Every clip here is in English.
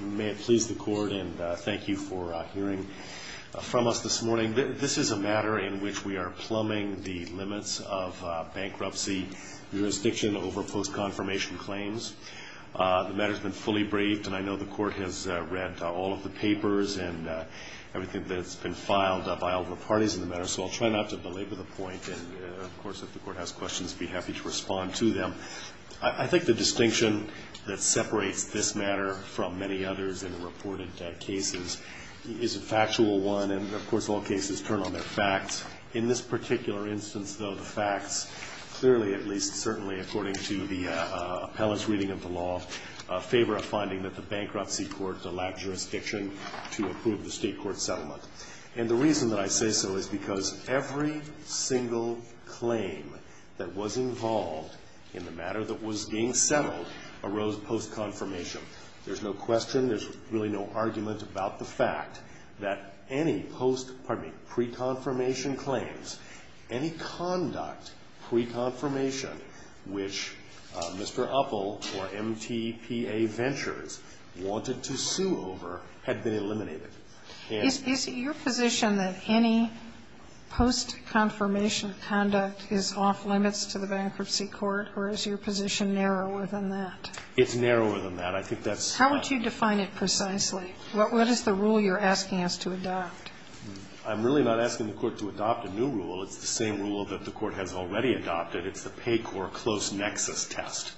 May it please the Court and thank you for hearing from us this morning. This is a matter in which we are plumbing the limits of bankruptcy jurisdiction over post-confirmation claims. The matter's been fully braved, and I know the Court has read all of the papers and everything that's been filed by all the parties in the matter, so I'll try not to belabor the point. And, of course, if the Court has questions, I'd be happy to respond to them. I think the distinction that separates this matter from many others in the reported cases is a factual one, and, of course, all cases turn on their facts. In this particular instance, though, the facts clearly, at least certainly, according to the appellant's reading of the law, favor a finding that the bankruptcy court, the lab jurisdiction, to approve the state court settlement. And the reason that I say so is because every single claim that was involved in the matter that was being settled arose post-confirmation. There's no question, there's really no argument about the fact that any post-pardon me, pre-confirmation claims, any conduct pre-confirmation which Mr. Uppel or MTPA Ventures wanted to sue over had been eliminated. Sotomayor, is it your position that any post-confirmation conduct is off-limits to the bankruptcy court, or is your position narrower than that? It's narrower than that. I think that's the point. How would you define it precisely? What is the rule you're asking us to adopt? I'm really not asking the Court to adopt a new rule. It's the same rule that the Court has already adopted. It's the PACOR close nexus test.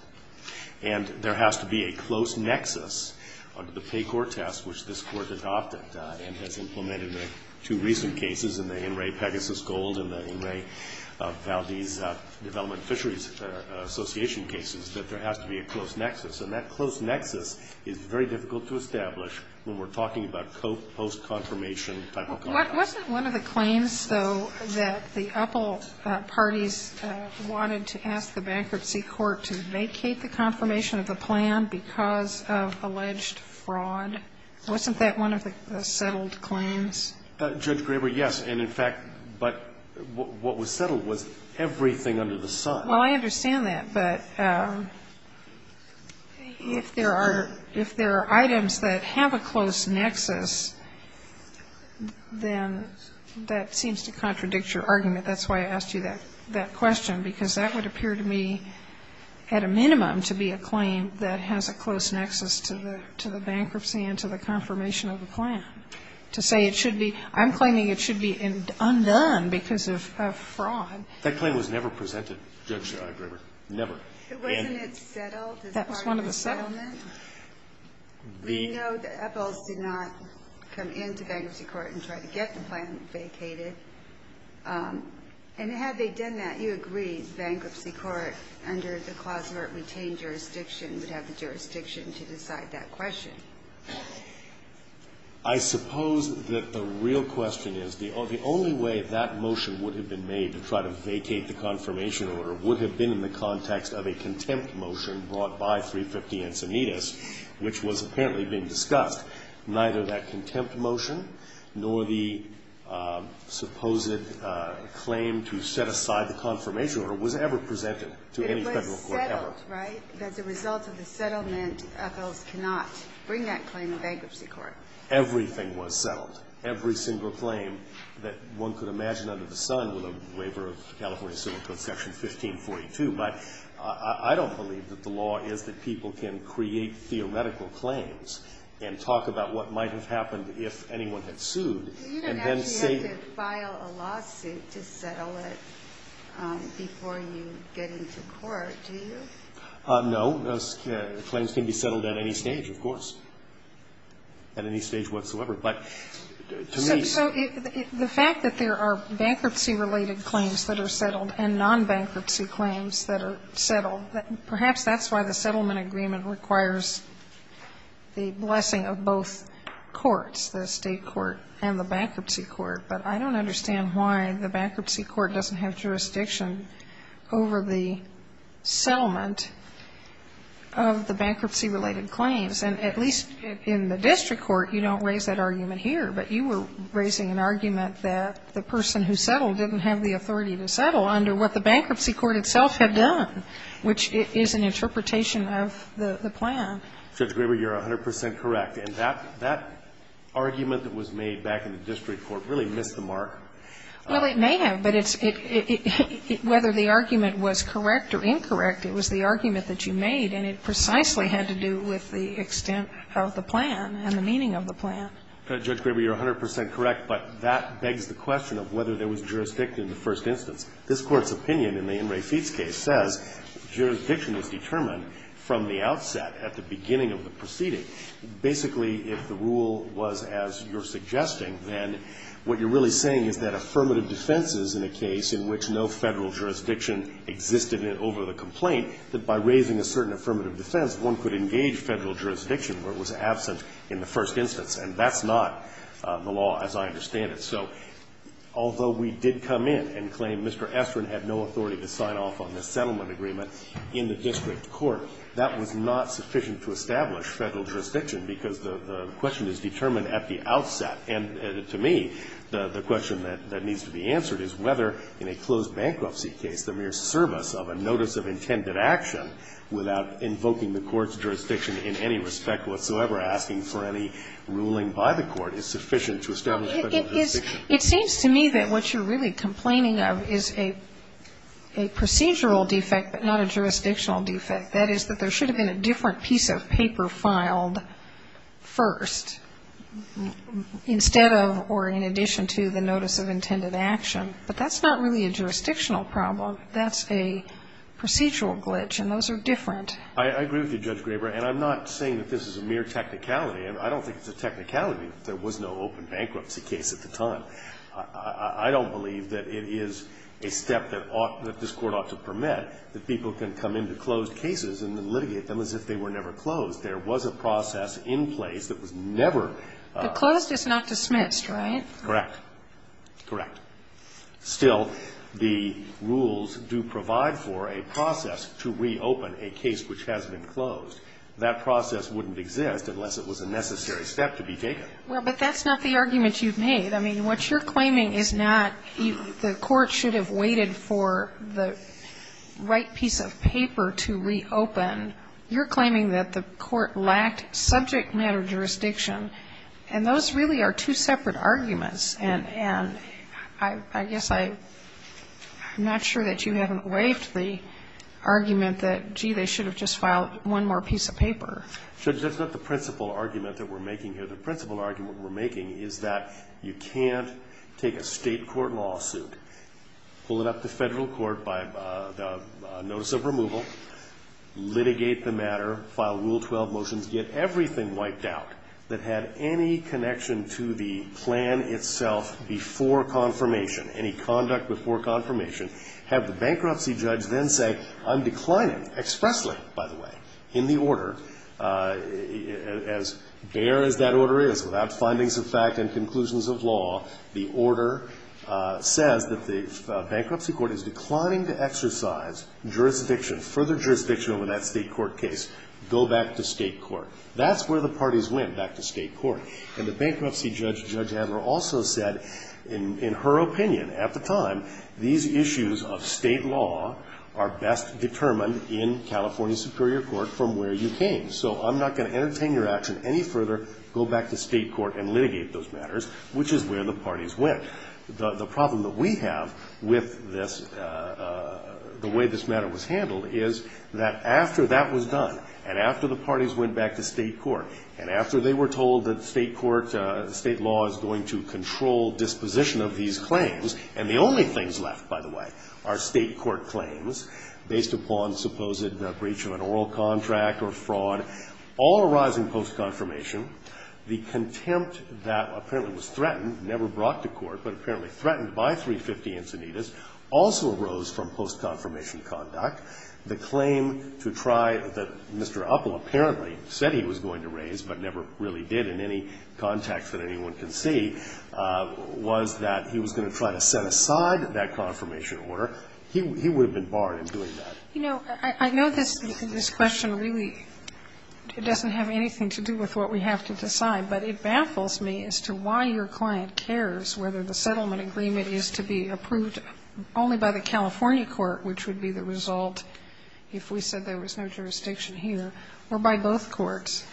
And there has to be a close nexus under the PACOR test, which this Court adopted and has implemented in two recent cases, in the In re Pegasus Gold and the In re Valdez Development Fisheries Association cases, that there has to be a close nexus. And that close nexus is very difficult to establish when we're talking about post-confirmation type of conduct. Wasn't one of the claims, though, that the UPL parties wanted to ask the bankruptcy court to vacate the confirmation of the plan because of alleged fraud? Wasn't that one of the settled claims? Judge Graber, yes. And, in fact, but what was settled was everything under the sun. Well, I understand that. But if there are items that have a close nexus, then that seems to contradict your argument. That's why I asked you that question, because that would appear to me, at a minimum, to be a claim that has a close nexus to the bankruptcy and to the confirmation of the plan. To say it should be, I'm claiming it should be undone because of fraud. That claim was never presented, Judge Graber. Never. Wasn't it settled as part of the settlement? That was one of the settlement. We know that UPLs did not come into bankruptcy court and try to get the plan vacated. And had they done that, you agree bankruptcy court under the clause where it retained jurisdiction would have the jurisdiction to decide that question. I suppose that the real question is the only way that motion would have been made to try to vacate the confirmation order would have been in the context of a contempt motion brought by 350 Encinitas, which was apparently being discussed. Neither that contempt motion nor the supposed claim to set aside the confirmation order was ever presented to any federal court ever. It was settled, right? As a result of the settlement, UPLs cannot bring that claim to bankruptcy court. Everything was settled. Every single claim that one could imagine under the sun with a waiver of California Civil Code Section 1542. But I don't believe that the law is that people can create theoretical claims and talk about what might have happened if anyone had sued. You don't actually have to file a lawsuit to settle it before you get into court, do you? No. Claims can be settled at any stage, of course. At any stage whatsoever. But to me so it's. So the fact that there are bankruptcy-related claims that are settled and non-bankruptcy claims that are settled, perhaps that's why the settlement agreement requires the blessing of both courts, the State court and the bankruptcy court. But I don't understand why the bankruptcy court doesn't have jurisdiction over the settlement of the bankruptcy-related claims. And at least in the district court, you don't raise that argument here. But you were raising an argument that the person who settled didn't have the authority to settle under what the bankruptcy court itself had done, which is an interpretation of the plan. Judge Graber, you're 100 percent correct. And that argument that was made back in the district court really missed the mark. Well, it may have. But whether the argument was correct or incorrect, it was the argument that you made. And it precisely had to do with the extent of the plan and the meaning of the plan. Judge Graber, you're 100 percent correct. But that begs the question of whether there was jurisdiction in the first instance. This Court's opinion in the In re Feats case says jurisdiction was determined from the outset, at the beginning of the proceeding. Basically, if the rule was as you're suggesting, then what you're really saying is that affirmative defenses in a case in which no Federal jurisdiction existed that by raising a certain affirmative defense, one could engage Federal jurisdiction where it was absent in the first instance. And that's not the law as I understand it. So although we did come in and claim Mr. Estrin had no authority to sign off on this settlement agreement in the district court, that was not sufficient to establish Federal jurisdiction, because the question is determined at the outset. And to me, the question that needs to be answered is whether in a closed bankruptcy case the mere service of a notice of intended action without invoking the Court's jurisdiction in any respect whatsoever, asking for any ruling by the Court, is sufficient to establish Federal jurisdiction. It seems to me that what you're really complaining of is a procedural defect, but not a jurisdictional defect. That is, that there should have been a different piece of paper filed first, instead of or in addition to the notice of intended action. But that's not really a jurisdictional problem. That's a procedural glitch, and those are different. I agree with you, Judge Graber. And I'm not saying that this is a mere technicality. I don't think it's a technicality that there was no open bankruptcy case at the time. I don't believe that it is a step that this Court ought to permit, that people can come into closed cases and litigate them as if they were never closed. There was a process in place that was never ---- But closed is not dismissed, right? Correct. Correct. Still, the rules do provide for a process to reopen a case which has been closed. That process wouldn't exist unless it was a necessary step to be taken. Well, but that's not the argument you've made. I mean, what you're claiming is not the Court should have waited for the right piece of paper to reopen. You're claiming that the Court lacked subject matter jurisdiction, and those really are two separate arguments. And I guess I'm not sure that you haven't waived the argument that, gee, they should have just filed one more piece of paper. Judge, that's not the principal argument that we're making here. The principal argument we're making is that you can't take a State court lawsuit, pull it up to Federal court by the notice of removal, litigate the matter, file Rule itself before confirmation, any conduct before confirmation, have the bankruptcy judge then say, I'm declining expressly, by the way, in the order, as bare as that order is, without findings of fact and conclusions of law, the order says that the bankruptcy court is declining to exercise jurisdiction, further jurisdiction over that State court case, go back to State court. That's where the parties win, back to State court. And the bankruptcy judge, Judge Adler, also said, in her opinion at the time, these issues of State law are best determined in California Superior Court from where you came. So I'm not going to entertain your action any further. Go back to State court and litigate those matters, which is where the parties win. The problem that we have with this, the way this matter was handled is that after that was done, and after the parties went back to State court, and after they were told that State court, State law is going to control disposition of these claims and the only things left, by the way, are State court claims based upon supposed breach of an oral contract or fraud, all arising post-confirmation. The contempt that apparently was threatened, never brought to court, but apparently threatened by 350 Encinitas, also arose from post-confirmation conduct. The claim to try the, Mr. Uppel apparently said he was going to raise, but never really did in any context that anyone can see, was that he was going to try to set aside that confirmation order. He would have been barred in doing that. You know, I know this question really doesn't have anything to do with what we have to decide, but it baffles me as to why your client cares whether the settlement agreement is to be approved only by the California court, which would be the result if we said there was no jurisdiction here, or by both courts.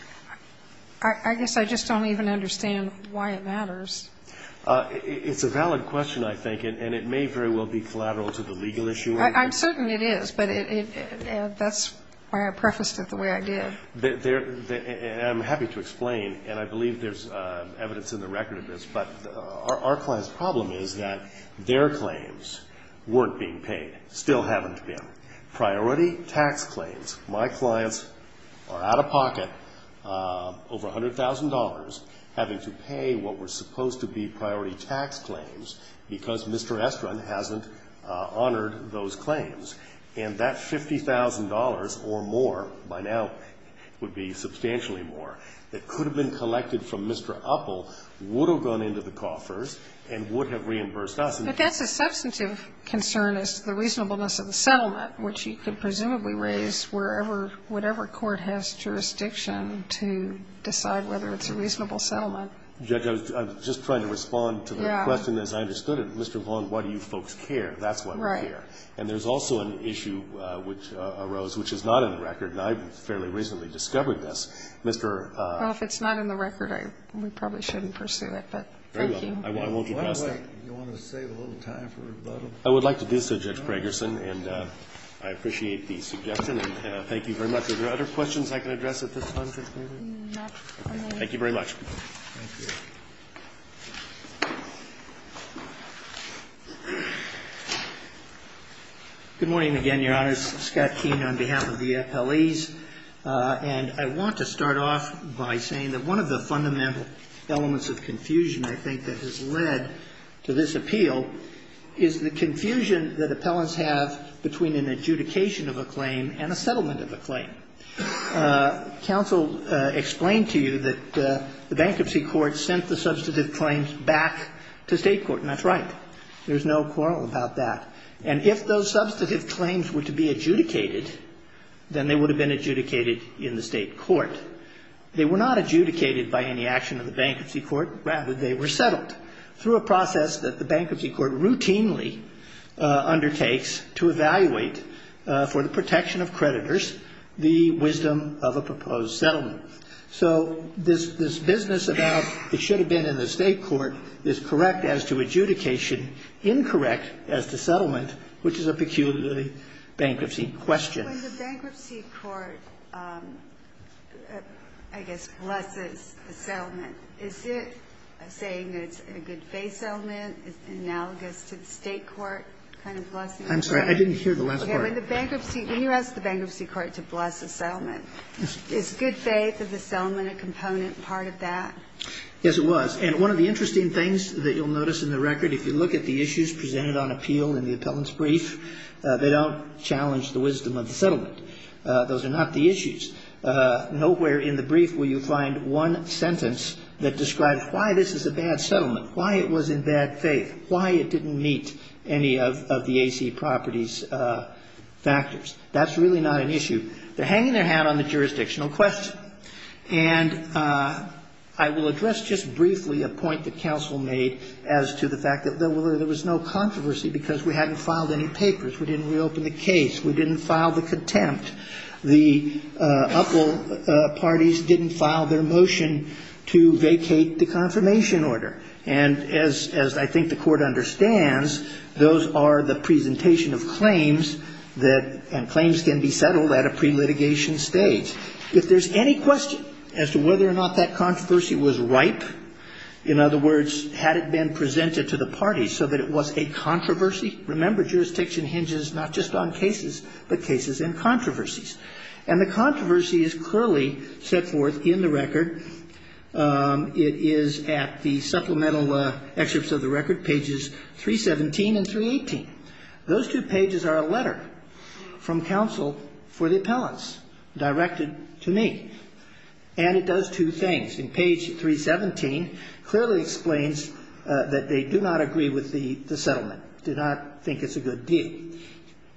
I guess I just don't even understand why it matters. It's a valid question, I think, and it may very well be collateral to the legal issue. I'm certain it is, but that's why I prefaced it the way I did. I'm happy to explain, and I believe there's evidence in the record of this, but our client's problem is that their claims weren't being paid, still haven't been. Priority tax claims. My clients are out of pocket, over $100,000, having to pay what were supposed to be priority tax claims because Mr. Estrin hasn't honored those claims. And that $50,000 or more by now would be substantially more that could have been collected from Mr. Uppel, would have gone into the coffers, and would have reimbursed us. But that's a substantive concern is the reasonableness of the settlement, which you could presumably raise wherever, whatever court has jurisdiction to decide whether it's a reasonable settlement. I'm just trying to respond to the question as I understood it. Mr. Vaughn, why do you folks care? That's why we're here. And there's also an issue which arose, which is not in the record, and I fairly recently discovered this. Mr. Well, if it's not in the record, we probably shouldn't pursue it, but thank you. I won't address that. Why do you want to save a little time for rebuttal? I would like to do so, Judge Bragerson, and I appreciate the suggestion, and thank you very much. Are there other questions I can address at this time, Judge Bragerson? Not for now. Thank you very much. Thank you. Good morning again, Your Honors. Scott Keene on behalf of the FLEs. And I want to start off by saying that one of the fundamental elements of confusion I think that has led to this appeal is the confusion that appellants have between an adjudication of a claim and a settlement of a claim. Counsel explained to you that the bankruptcy court sent the substantive claims back to State court, and that's right. There's no quarrel about that. And if those substantive claims were to be adjudicated, then they would have been adjudicated in the State court. They were not adjudicated by any action of the bankruptcy court. Rather, they were settled through a process that the bankruptcy court routinely undertakes to evaluate for the protection of creditors the wisdom of a proposed settlement. So this business about it should have been in the State court is correct as to adjudication, incorrect as to settlement, which is a peculiarly bankruptcy question. When the bankruptcy court, I guess, blesses a settlement, is it saying it's a good faith settlement, it's analogous to the State court kind of blessing? I'm sorry. I didn't hear the last part. Okay. When you ask the bankruptcy court to bless a settlement, is good faith of the settlement a component part of that? Yes, it was. And one of the interesting things that you'll notice in the record, if you look at the settlement, those are not the issues. Nowhere in the brief will you find one sentence that describes why this is a bad settlement, why it was in bad faith, why it didn't meet any of the AC property's factors. That's really not an issue. They're hanging their hat on the jurisdictional question. And I will address just briefly a point that counsel made as to the fact that there was no controversy because we hadn't filed any papers. We didn't reopen the case. We didn't file the contempt. The uphold parties didn't file their motion to vacate the confirmation order. And as I think the court understands, those are the presentation of claims that claims can be settled at a pre-litigation stage. If there's any question as to whether or not that controversy was ripe, in other words, had it been presented to the parties so that it was a controversy, remember, jurisdiction hinges not just on cases, but cases and controversies. And the controversy is clearly set forth in the record. It is at the supplemental excerpts of the record, pages 317 and 318. Those two pages are a letter from counsel for the appellants directed to me. And it does two things. In page 317, clearly explains that they do not agree with the settlement, do not think it's a good deal.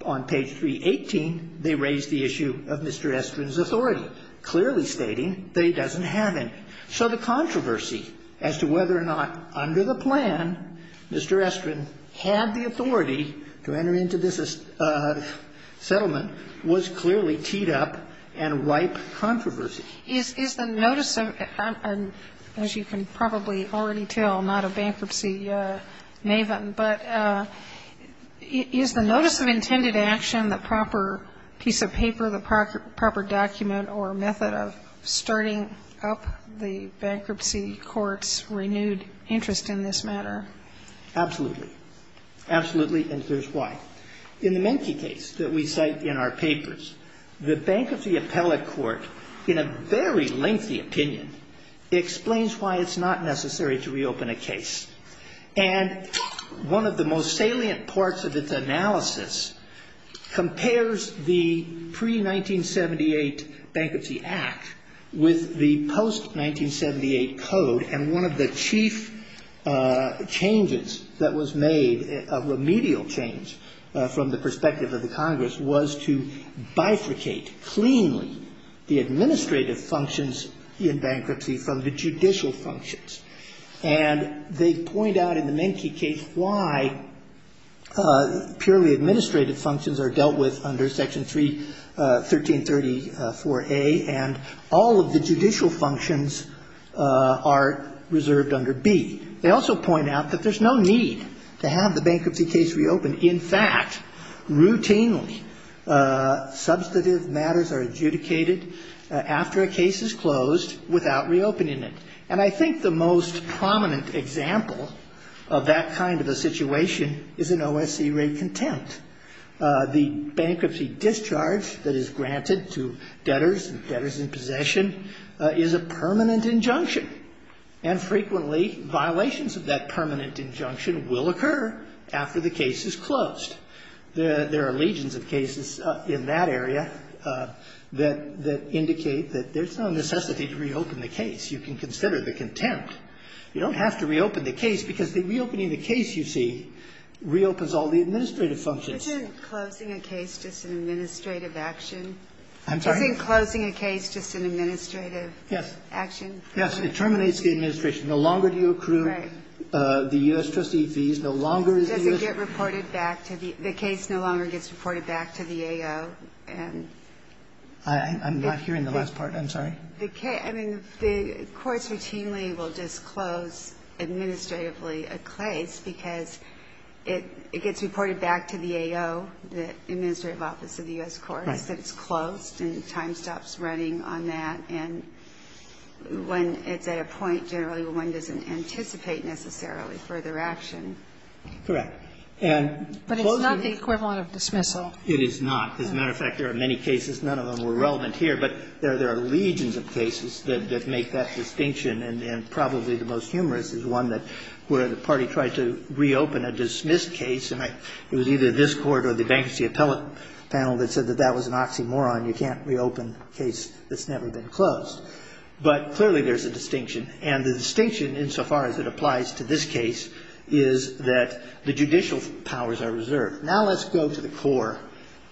On page 318, they raise the issue of Mr. Estrin's authority, clearly stating that he doesn't have any. So the controversy as to whether or not under the plan Mr. Estrin had the authority to enter into this settlement was clearly teed up and ripe controversy. Is the notice of, as you can probably already tell, not a bankruptcy maven, but is the notice of intended action the proper piece of paper, the proper document or method of starting up the bankruptcy court's renewed interest in this matter? Absolutely. Absolutely. And here's why. In the Menke case that we cite in our papers, the bankruptcy appellate court, in a very lengthy opinion, explains why it's not necessary to reopen a case. And one of the most salient parts of its analysis compares the pre-1978 Bankruptcy Act with the post-1978 code. And one of the chief changes that was made, a remedial change from the perspective of the Congress, was to bifurcate cleanly the administrative functions in bankruptcy from the judicial functions. And they point out in the Menke case why purely administrative functions are dealt with under Section 1334A, and all of the judicial functions are reserved under B. They also point out that there's no need to have the bankruptcy case reopened. In fact, routinely, substantive matters are adjudicated after a case is closed without reopening it. And I think the most prominent example of that kind of a situation is in OSC rate contempt. The bankruptcy discharge that is granted to debtors and debtors in possession is a permanent injunction. And frequently, violations of that permanent injunction will occur after the case is closed. There are legions of cases in that area that indicate that there's no necessity to reopen the case. You can consider the contempt. You don't have to reopen the case, because the reopening of the case, you see, reopens all the administrative functions. Is closing a case just an administrative action? I'm sorry? Is closing a case just an administrative action? Yes. It terminates the administration. No longer do you accrue the U.S. trustee fees. No longer is the U.S. Does it get reported back to the the case no longer gets reported back to the AO? I'm not hearing the last part. I'm sorry. The case, I mean, the courts routinely will disclose administratively a case, because it gets reported back to the AO, the administrative office of the U.S. courts, that it's closed and time stops running on that. And when it's at a point generally when one doesn't anticipate necessarily further action. Correct. But it's not the equivalent of dismissal. It is not. As a matter of fact, there are many cases, none of them were relevant here, but there are legions of cases that make that distinction. And probably the most humorous is one where the party tried to reopen a dismissed case, and it was either this court or the bankruptcy appellate panel that said that that was an oxymoron. You can't reopen a case that's never been closed. But clearly there's a distinction. And the distinction, insofar as it applies to this case, is that the judicial powers are reserved. Now let's go to the core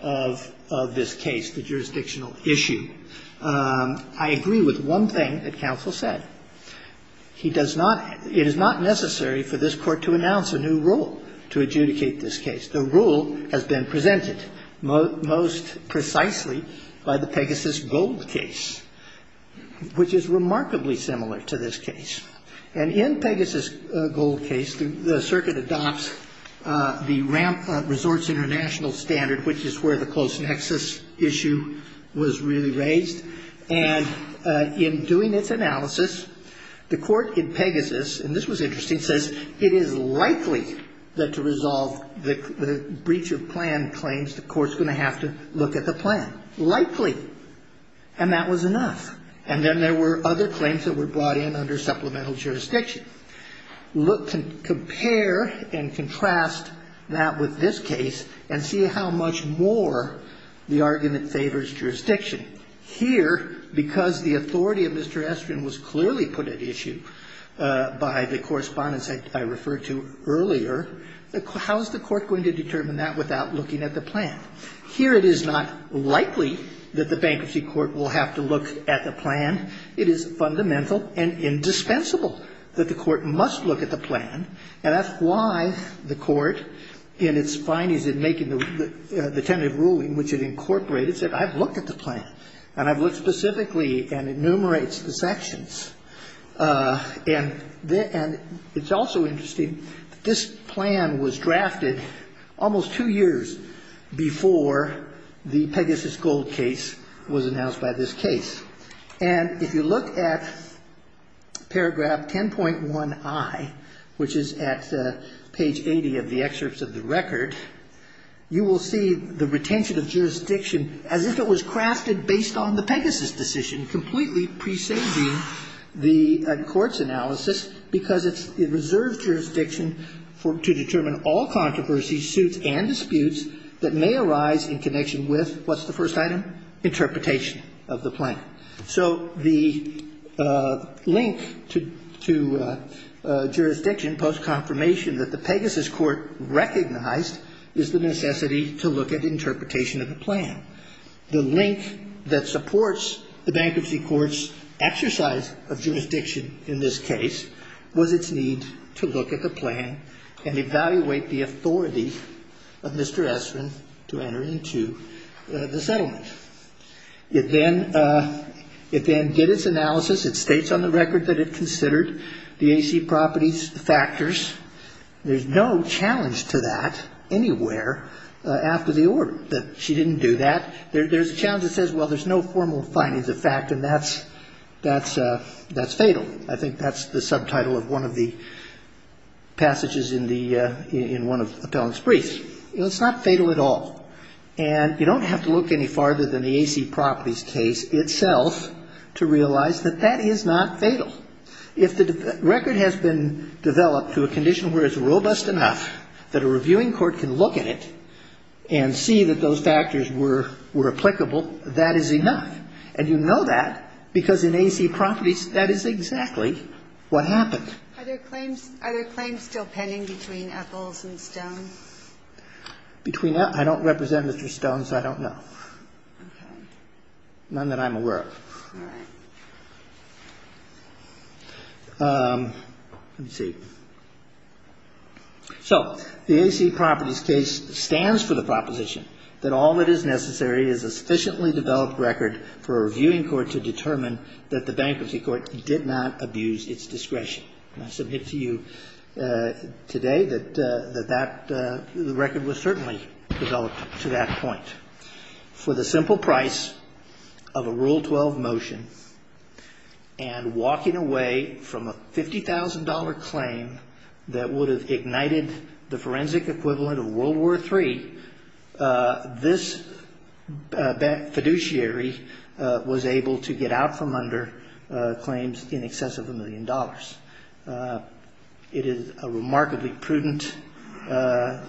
of this case, the jurisdictional issue. I agree with one thing that counsel said. He does not – it is not necessary for this Court to announce a new rule to adjudicate this case. The rule has been presented most precisely by the Pegasus Gold case, which is remarkably similar to this case. And in Pegasus Gold case, the circuit adopts the Ramp Resorts International standard, which is where the close nexus issue was really raised. And in doing its analysis, the court in Pegasus – and this was interesting – says it is likely that to resolve the breach of plan claims, the court's going to have to look at the plan. Likely. And that was enough. And then there were other claims that were brought in under supplemental jurisdiction. Compare and contrast that with this case and see how much more the argument favors jurisdiction. Here, because the authority of Mr. Estrin was clearly put at issue by the correspondence I referred to earlier, how is the court going to determine that without looking at the plan? Here it is not likely that the bankruptcy court will have to look at the plan. It is fundamental and indispensable that the court must look at the plan. And that's why the court in its findings in making the tentative ruling, which it incorporated, said, I've looked at the plan, and I've looked specifically and it enumerates the sections. And it's also interesting that this plan was drafted almost two years before the Pegasus Gold case was announced by this case. And if you look at paragraph 10.1i, which is at page 80 of the excerpts of the record, you will see the retention of jurisdiction as if it was crafted based on the Pegasus decision, completely presaging the court's analysis, because it reserves jurisdiction to determine all controversies, suits, and disputes that may arise in connection with, what's the first item? Interpretation of the plan. So the link to jurisdiction post-confirmation that the Pegasus court recognized is the necessity to look at interpretation of the plan. The link that supports the bankruptcy court's exercise of jurisdiction in this case was its need to look at the plan and evaluate the authority of Mr. Esrin to enter into the settlement. It then did its analysis. It states on the record that it considered the AC properties factors. There's no challenge to that anywhere after the order, that she didn't do that. There's a challenge that says, well, there's no formal findings of fact, and that's fatal. I think that's the subtitle of one of the passages in one of Appellant's briefs. It's not fatal at all. And you don't have to look any farther than the AC properties case itself to realize that that is not fatal. If the record has been developed to a condition where it's robust enough that a reviewing court can look at it and see that those factors were applicable, that is enough. And you know that because in AC properties, that is exactly what happened. Are there claims still pending between Epples and Stone? Between Epples? I don't represent Mr. Stone, so I don't know. Okay. None that I'm aware of. All right. Let me see. So the AC properties case stands for the proposition that all that is necessary is a sufficiently developed record for a reviewing court to determine that the bankruptcy court did not abuse its discretion. And I submit to you today that the record was certainly developed to that point. For the simple price of a Rule 12 motion and walking away from a $50,000 claim that would have ignited the forensic equivalent of World War III, this fiduciary was able to get out from under claims in excess of a million dollars. It is a remarkably prudent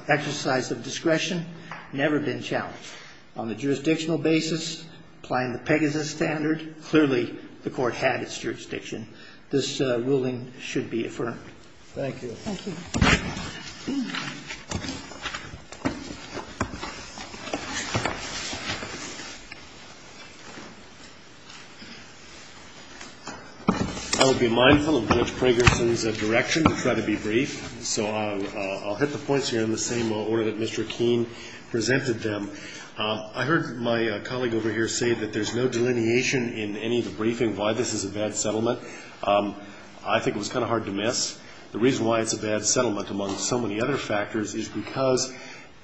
exercise of discretion, never been challenged. On the jurisdictional basis, applying the Pegasus standard, clearly the court had its jurisdiction. This ruling should be affirmed. Thank you. Thank you. I will be mindful of Judge Pragerson's direction to try to be brief. So I'll hit the points here in the same order that Mr. Keene presented them. I heard my colleague over here say that there's no delineation in any of the briefing why this is a bad settlement. I think it was kind of hard to miss. The reason why it's a bad settlement among so many other factors is because,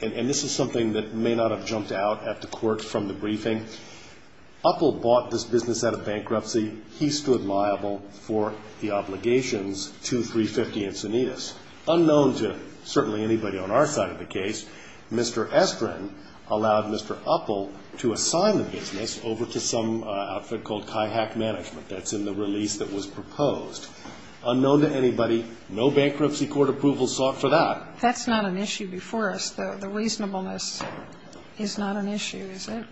and this is something that may not have jumped out at the court from the briefing, Uppel bought this business out of bankruptcy. He stood liable for the obligations to 350 Encinitas. Unknown to certainly anybody on our side of the case, Mr. Estrin allowed Mr. Uppel to assign the business over to some outfit called Kaihack Management. That's in the release that was proposed. Unknown to anybody, no bankruptcy court approval sought for that. That's not an issue before us, though. The reasonableness is not an issue, is it?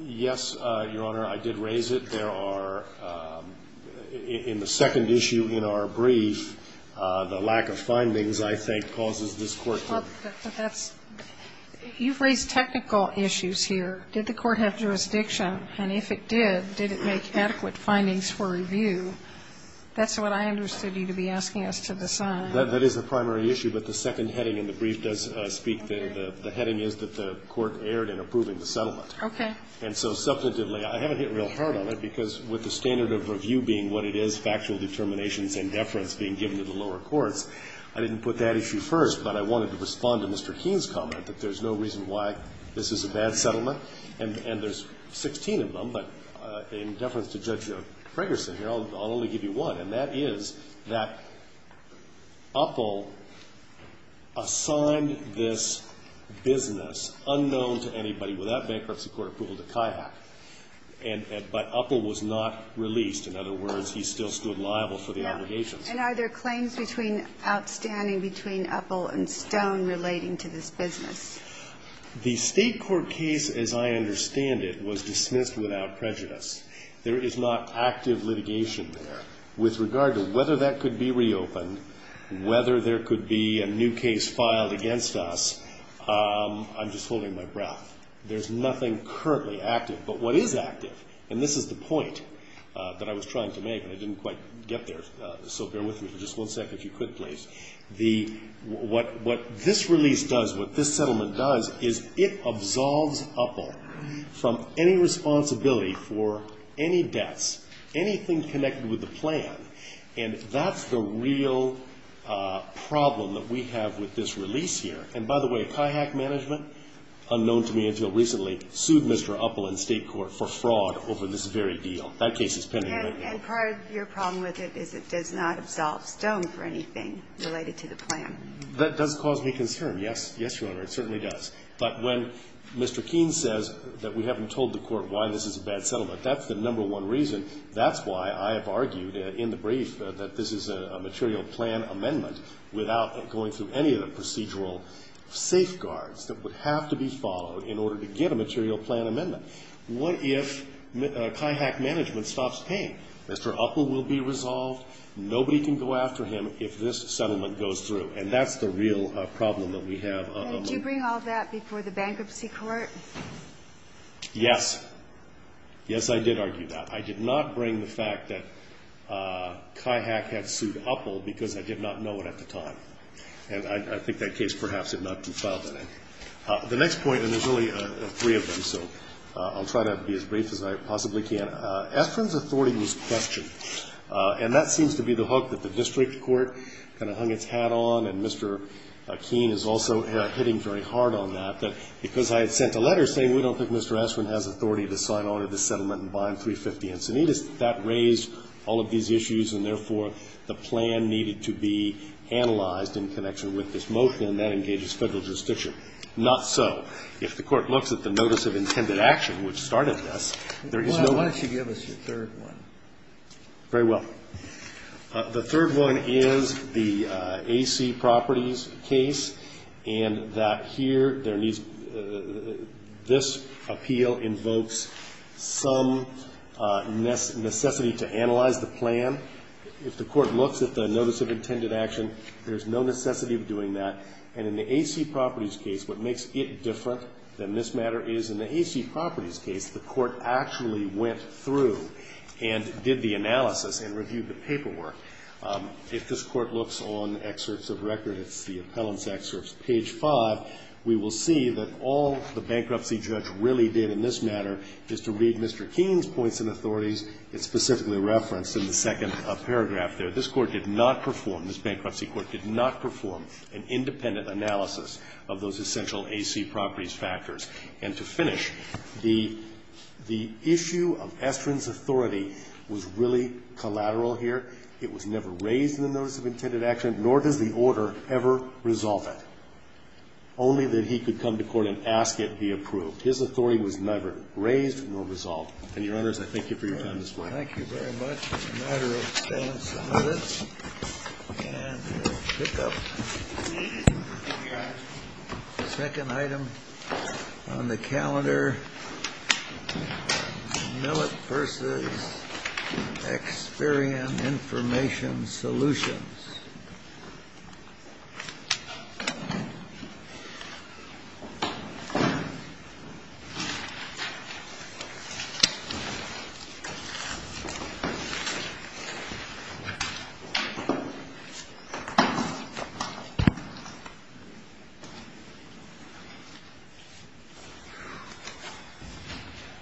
Yes, Your Honor. I did raise it. There are, in the second issue in our brief, the lack of findings, I think, causes this court to. But that's you've raised technical issues here. Did the court have jurisdiction? And if it did, did it make adequate findings for review? That's what I understood you to be asking us to decide. That is the primary issue. But the second heading in the brief does speak. The heading is that the court erred in approving the settlement. Okay. And so substantively, I haven't hit real hard on it, because with the standard of review being what it is, factual determinations and deference being given to the lower courts, I didn't put that issue first. But I wanted to respond to Mr. Keene's comment, that there's no reason why this is a bad settlement. And there's 16 of them. But in deference to Judge Fragerson here, I'll only give you one. And that is that Uppel assigned this business unknown to anybody without bankruptcy court approval to CAHAC. But Uppel was not released. In other words, he still stood liable for the obligations. And are there claims outstanding between Uppel and Stone relating to this business? The State court case, as I understand it, was dismissed without prejudice. There is not active litigation there. With regard to whether that could be reopened, whether there could be a new case filed against us, I'm just holding my breath. There's nothing currently active. But what is active, and this is the point that I was trying to make, and I didn't quite get there, so bear with me for just one second if you could, please. What this release does, what this settlement does, is it absolves Uppel from any responsibility for any debts, anything connected with the plan. And that's the real problem that we have with this release here. And, by the way, CAHAC management, unknown to me until recently, sued Mr. Uppel in State court for fraud over this very deal. That case is pending right now. And part of your problem with it is it does not absolve Stone for anything related to the plan. That does cause me concern, yes. Yes, Your Honor, it certainly does. But when Mr. Keene says that we haven't told the court why this is a bad settlement, that's the number one reason. That's why I have argued in the brief that this is a material plan amendment without going through any of the procedural safeguards that would have to be followed in order to get a material plan amendment. What if CAHAC management stops paying? Mr. Uppel will be resolved. Nobody can go after him if this settlement goes through. And that's the real problem that we have. And did you bring all that before the bankruptcy court? Yes. Yes, I did argue that. I did not bring the fact that CAHAC had sued Uppel because I did not know it at the time. And I think that case perhaps did not do well. Thank you, Mr. President. The next point, and there's only three of them, so I'll try to be as brief as I possibly can. Esperin's authority was questioned. And that seems to be the hook that the district court kind of hung its hat on. And Mr. Keene is also hitting very hard on that, that because I had sent a letter saying we don't think Mr. Esperin has authority to sign on to this settlement and bind 350 Encinitas, that raised all of these issues, and therefore the plan needed to be analyzed in connection with this motion. And that engages Federal jurisdiction. Not so. If the court looks at the notice of intended action, which started this, there is no one. Why don't you give us your third one? Very well. The third one is the A.C. Properties case, and that here there needs to be this appeal invokes some necessity to analyze the plan. And in the A.C. Properties case, what makes it different than this matter is in the A.C. Properties case, the court actually went through and did the analysis and reviewed the paperwork. If this Court looks on excerpts of record, it's the appellant's excerpts, page 5, we will see that all the bankruptcy judge really did in this matter is to read Mr. Keene's points and authorities. It's specifically referenced in the second paragraph there. This Court did not perform, this Bankruptcy Court did not perform an independent analysis of those essential A.C. Properties factors. And to finish, the issue of Estrin's authority was really collateral here. It was never raised in the notice of intended action, nor does the order ever resolve it. Only that he could come to court and ask it be approved. His authority was neither raised nor resolved. And, Your Honors, I thank you for your time this morning. Thank you very much. A matter of balance of minutes. And we'll pick up the second item on the calendar. Millet v. Experian Information Solutions. Thank you.